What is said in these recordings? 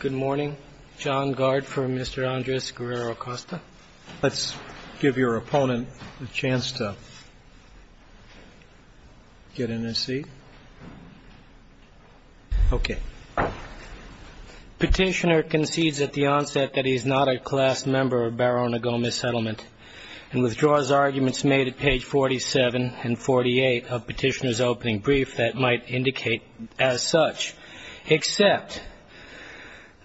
Good morning. John Gard for Mr. Andres Guerrero-Acosta. Let's give your opponent a chance to get in his seat. Okay. Petitioner concedes at the onset that he is not a class member of Barona Gomez Settlement and withdraws arguments made at page 47 and 48 of petitioner's opening brief that might indicate as such, except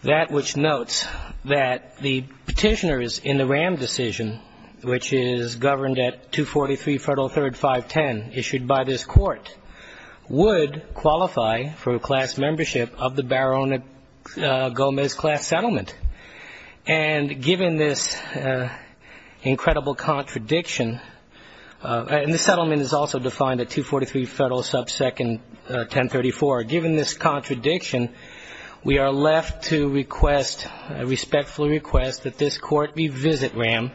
that which notes that the petitioner is in the RAM decision, which is governed at 243 Federal 3rd 510 issued by this court, would qualify for a class membership of the Barona Gomez Class Settlement. And given this incredible contradiction, and the settlement is also defined at 243 Federal 2nd 1034, given this contradiction, we are left to request, respectfully request, that this court revisit RAM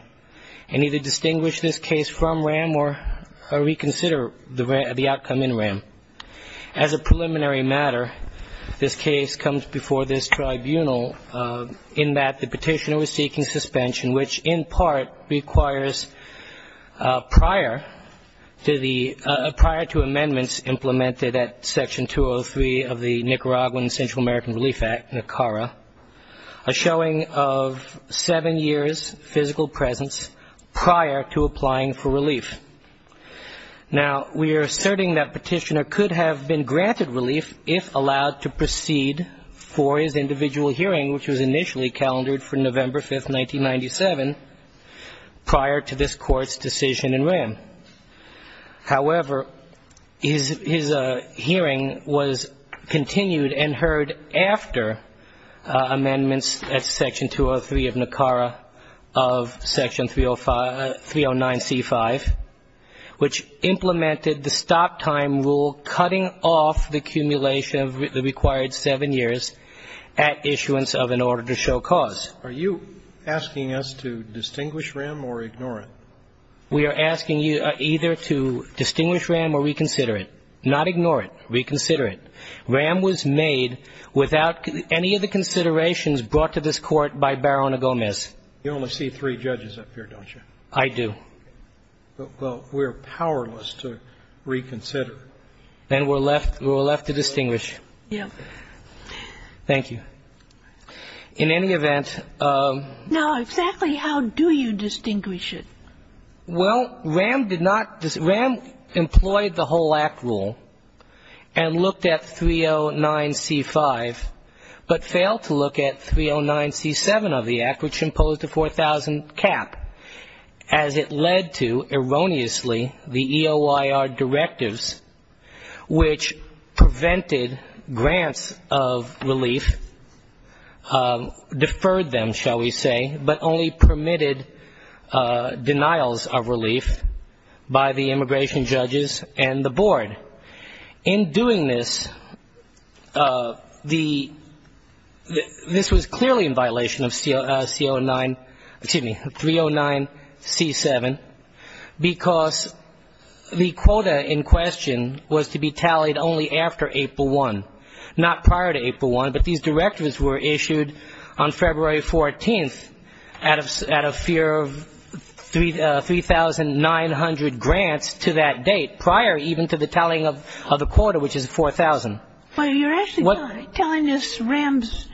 and either distinguish this case from RAM or reconsider the outcome in RAM. As a preliminary matter, this case comes before this tribunal in that the petitioner was seeking suspension, which in part requires prior to the prior to amendments implemented at section 203 of the Nicaraguan Central American Relief Act, NICARA, a showing of seven years' physical presence prior to applying for relief. Now, we are asserting that petitioner could have been granted relief if allowed to proceed for his individual hearing, which was initially calendared for November 5, 1997, prior to this court's decision in RAM. However, his hearing was continued and heard after amendments at section 203 of NICARA of section 309C5, which implemented the stop time rule cutting off the accumulation of the required seven years at issuance of an order to show cause. Are you asking us to distinguish RAM or ignore it? We are asking you either to distinguish RAM or reconsider it. Not ignore it. Reconsider it. RAM was made without any of the considerations brought to this court by Barona Gomez. You only see three judges up here, don't you? I do. Well, we're powerless to reconsider. Then we're left to distinguish. Yes. Thank you. In any event of No. Exactly how do you distinguish it? Well, RAM did not. RAM employed the whole Act rule and looked at 309C5, but failed to look at 309C7 of the Act, which imposed a 4,000 cap, as it led to, erroneously, the EOIR directives, which prevented grants of relief, deferred them, shall we say, but only permitted denials of relief by the immigration judges and the board. In doing this, this was clearly in violation of 309C7, because the quota in question was to be tallied only after April 1, not prior to April 1, but these directives were issued on February 14th out of fear of 3,900 grants to that date, prior even to the tallying of the quota, which is 4,000. Well, you're actually telling us RAM's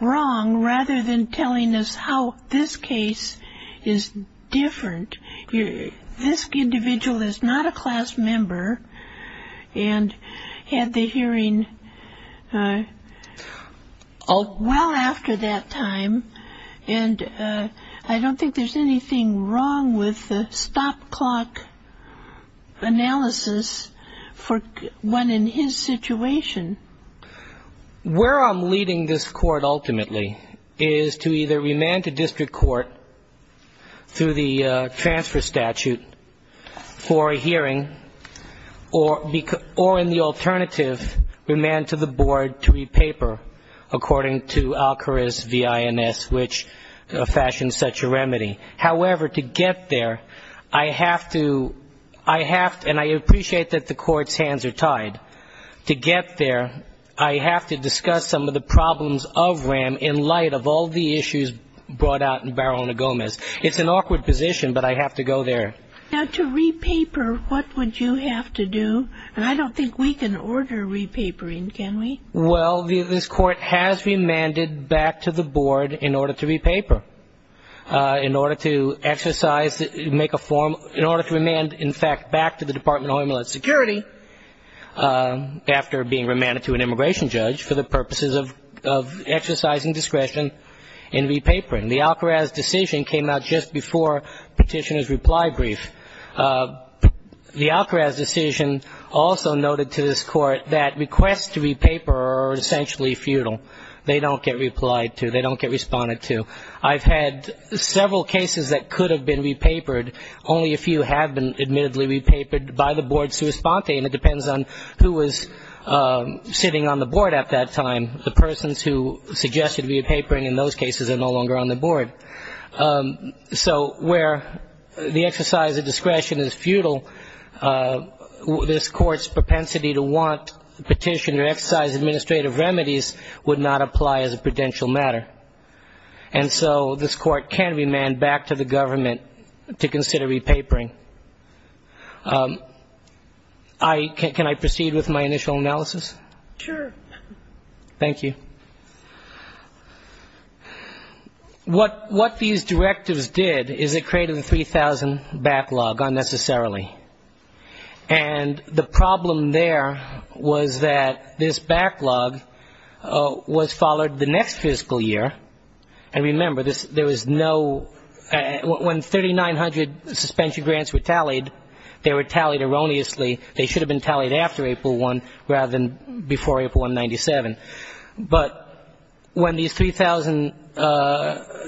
wrong rather than telling us how this case is different. This individual is not a class member and had the hearing well after that time, and I don't think there's anything wrong with the stop clock analysis for one in his situation. Where I'm leading this court ultimately is to either remand to district court through the transfer statute for a hearing or in the alternative, remand to the board to re-paper, according to Alcaraz v. INS, which fashions such a remedy. However, to get there, I have to, I have to, and I appreciate that the court's hands are tied. To get there, I have to discuss some of the problems of RAM in light of all the issues brought out in Barolina Gomez. It's an awkward position, but I have to go there. Now, to re-paper, what would you have to do? And I don't think we can order re-papering, can we? Well, this court has remanded back to the board in order to re-paper, in order to exercise, make a form, in order to remand, in fact, back to the Department of Homeland Security after being remanded to an immigration judge for the purposes of exercising discretion in re-papering. The Alcaraz decision came out just before Petitioner's reply brief. The Alcaraz decision also noted to this court that requests to re-paper are essentially futile. They don't get replied to. They don't get responded to. I've had several cases that could have been re-papered. Only a few have been admittedly re-papered by the board sui sponte, and it depends on who was sitting on the board at that time. The persons who suggested re-papering in those cases are no longer on the board. So where the exercise of discretion is futile, this court's propensity to want Petitioner to exercise administrative remedies would not apply as a prudential matter. And so this court can remand back to the government to consider re-papering. Can I proceed with my initial analysis? Sure. Thank you. What these directives did is it created a 3,000 backlog unnecessarily. And the problem there was that this backlog was followed the next fiscal year. And remember, there was no ñ when 3,900 suspension grants were tallied, they were tallied erroneously. They should have been tallied after April 1 rather than before April 1, 1997. But when these 3,000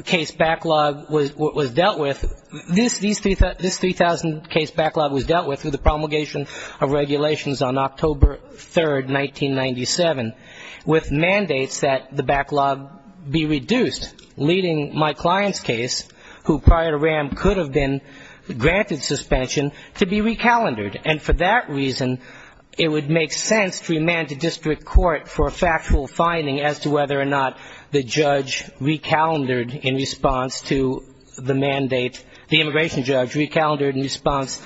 case backlog was dealt with, this 3,000 case backlog was dealt with through the promulgation of regulations on October 3, 1997, with mandates that the backlog be reduced, leading my client's case, who prior to RAM could have been granted suspension, to be re-calendared. And for that reason, it would make sense to remand the district court for a factual finding as to whether or not the judge re-calendared in response to the mandate ñ the immigration judge re-calendared in response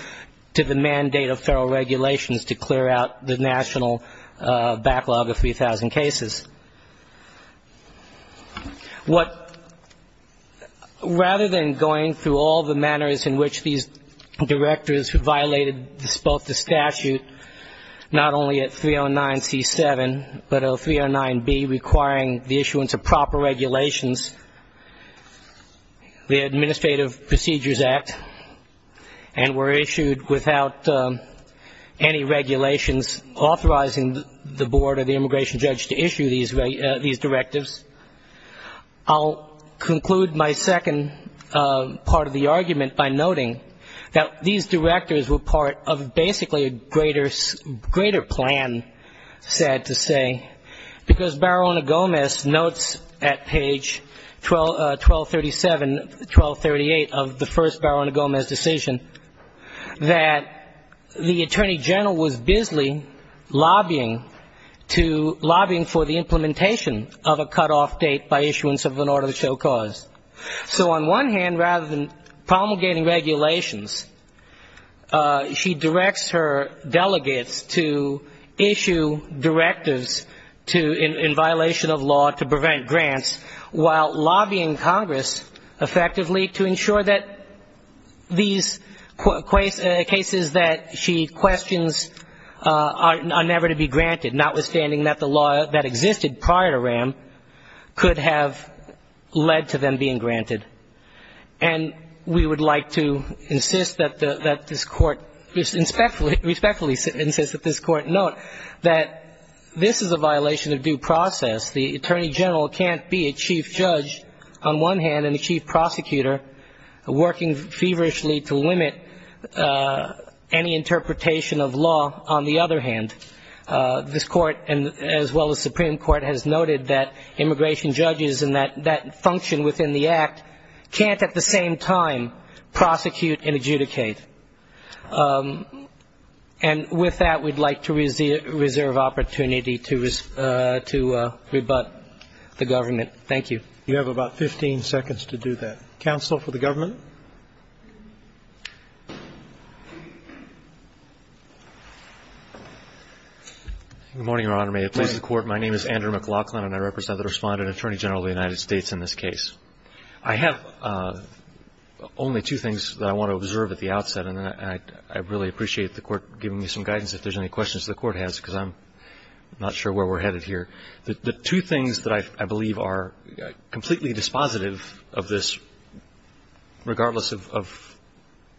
to the mandate of federal regulations to clear out the national backlog of 3,000 cases. What ñ rather than going through all the manners in which these directors violated both the statute, not only at 309C7, but at 309B, requiring the issuance of proper regulations, the Administrative Procedures Act, and were issued without any regulations authorizing the board or the immigration judge to issue these directives, I'll conclude my second part of the argument by noting that these directors were part of basically a greater plan, sad to say, because Barona-Gomez notes at page 1237, 1238 of the first Barona-Gomez decision, that the Attorney General was busily lobbying to ñ lobbying for the implementation of a cutoff date by issuance of an order to show cause. So on one hand, rather than promulgating regulations, she directs her delegates to issue directives to ñ in violation of law to prevent grants, while lobbying Congress effectively to ensure that these cases that she questions are never to be granted, notwithstanding that the law that existed prior to RAM could have led to them being granted. And we would like to insist that this Court ñ respectfully insist that this Court note that this is a violation of due process. The Attorney General can't be a chief judge, on one hand, and a chief prosecutor, working feverishly to limit any interpretation of law. On the other hand, this Court, as well as Supreme Court, has noted that immigration judges and that function within the Act can't at the same time prosecute and adjudicate. And with that, we'd like to reserve opportunity to rebut the government. Thank you. You have about 15 seconds to do that. Counsel for the government. Good morning, Your Honor. May it please the Court, my name is Andrew McLaughlin, and I represent the Respondent Attorney General of the United States in this case. I have only two things that I want to observe at the outset, and I really appreciate the Court giving me some guidance if there's any questions the Court has because I'm not sure where we're headed here. The two things that I believe are completely dispositive of this, regardless of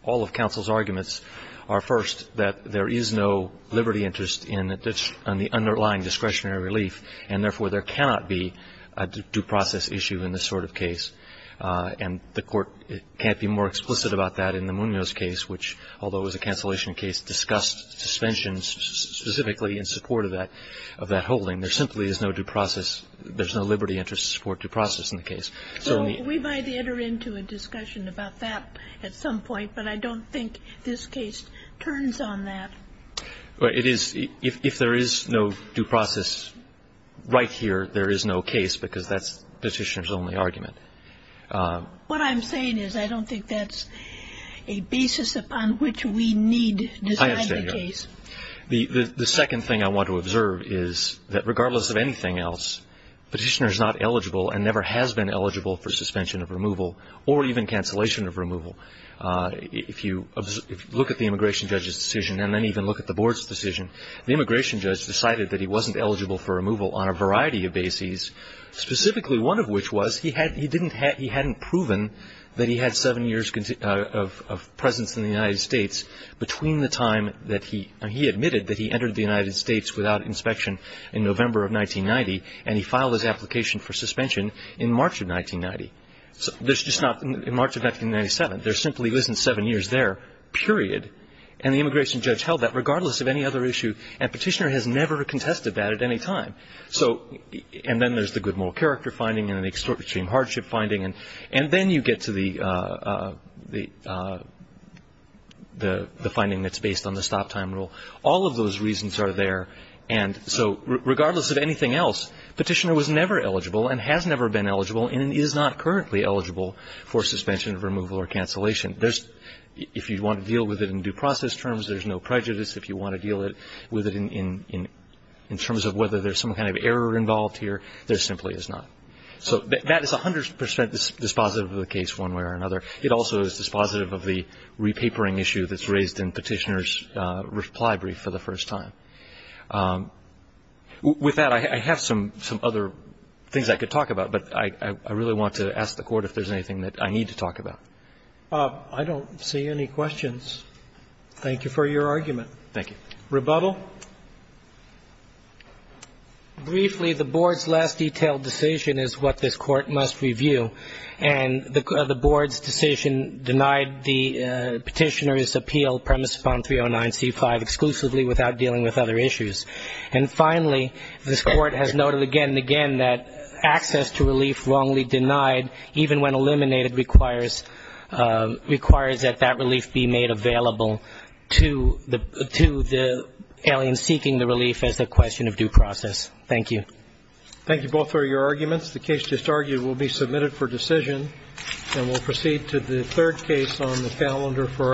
all of counsel's arguments, are, first, that there is no liberty interest in the underlying discretionary relief, and therefore, there cannot be a due process issue in this sort of case. And the Court can't be more explicit about that in the Munoz case, which, although it was a cancellation case, discussed suspensions specifically in support of that holding. There simply is no due process. There's no liberty interest to support due process in the case. So we might enter into a discussion about that at some point, but I don't think this case turns on that. It is. If there is no due process right here, there is no case because that's Petitioner's only argument. What I'm saying is I don't think that's a basis upon which we need to decide the case. The second thing I want to observe is that, regardless of anything else, Petitioner's not eligible and never has been eligible for suspension of removal or even cancellation of removal. If you look at the immigration judge's decision and then even look at the Board's decision, the immigration judge decided that he wasn't eligible for removal on a variety of bases, specifically one of which was he hadn't proven that he entered the United States without inspection in November of 1990, and he filed his application for suspension in March of 1990. It's just not in March of 1997. There simply wasn't seven years there, period. And the immigration judge held that regardless of any other issue, and Petitioner has never contested that at any time. And then there's the Goodmore character finding and the extortion hardship finding, and then you get to the finding that's based on the stop time rule. All of those reasons are there, and so regardless of anything else, Petitioner was never eligible and has never been eligible and is not currently eligible for suspension of removal or cancellation. If you want to deal with it in due process terms, there's no prejudice. If you want to deal with it in terms of whether there's some kind of error involved here, there simply is not. So that is 100 percent dispositive of the case one way or another. It also is dispositive of the repapering issue that's raised in Petitioner's reply brief for the first time. With that, I have some other things I could talk about, but I really want to ask the Court if there's anything that I need to talk about. I don't see any questions. Thank you for your argument. Thank you. Rebuttal. Briefly, the Board's last detailed decision is what this Court must review, and the Board's decision denied the Petitioner's appeal premised upon 309C5 exclusively without dealing with other issues. And finally, this Court has noted again and again that access to relief wrongly denied, even when eliminated, requires that that relief be made available to the Italian seeking the relief as a question of due process. Thank you. Thank you both for your arguments. The case just argued will be submitted for decision, and we'll proceed to the third case on the calendar for our discussion.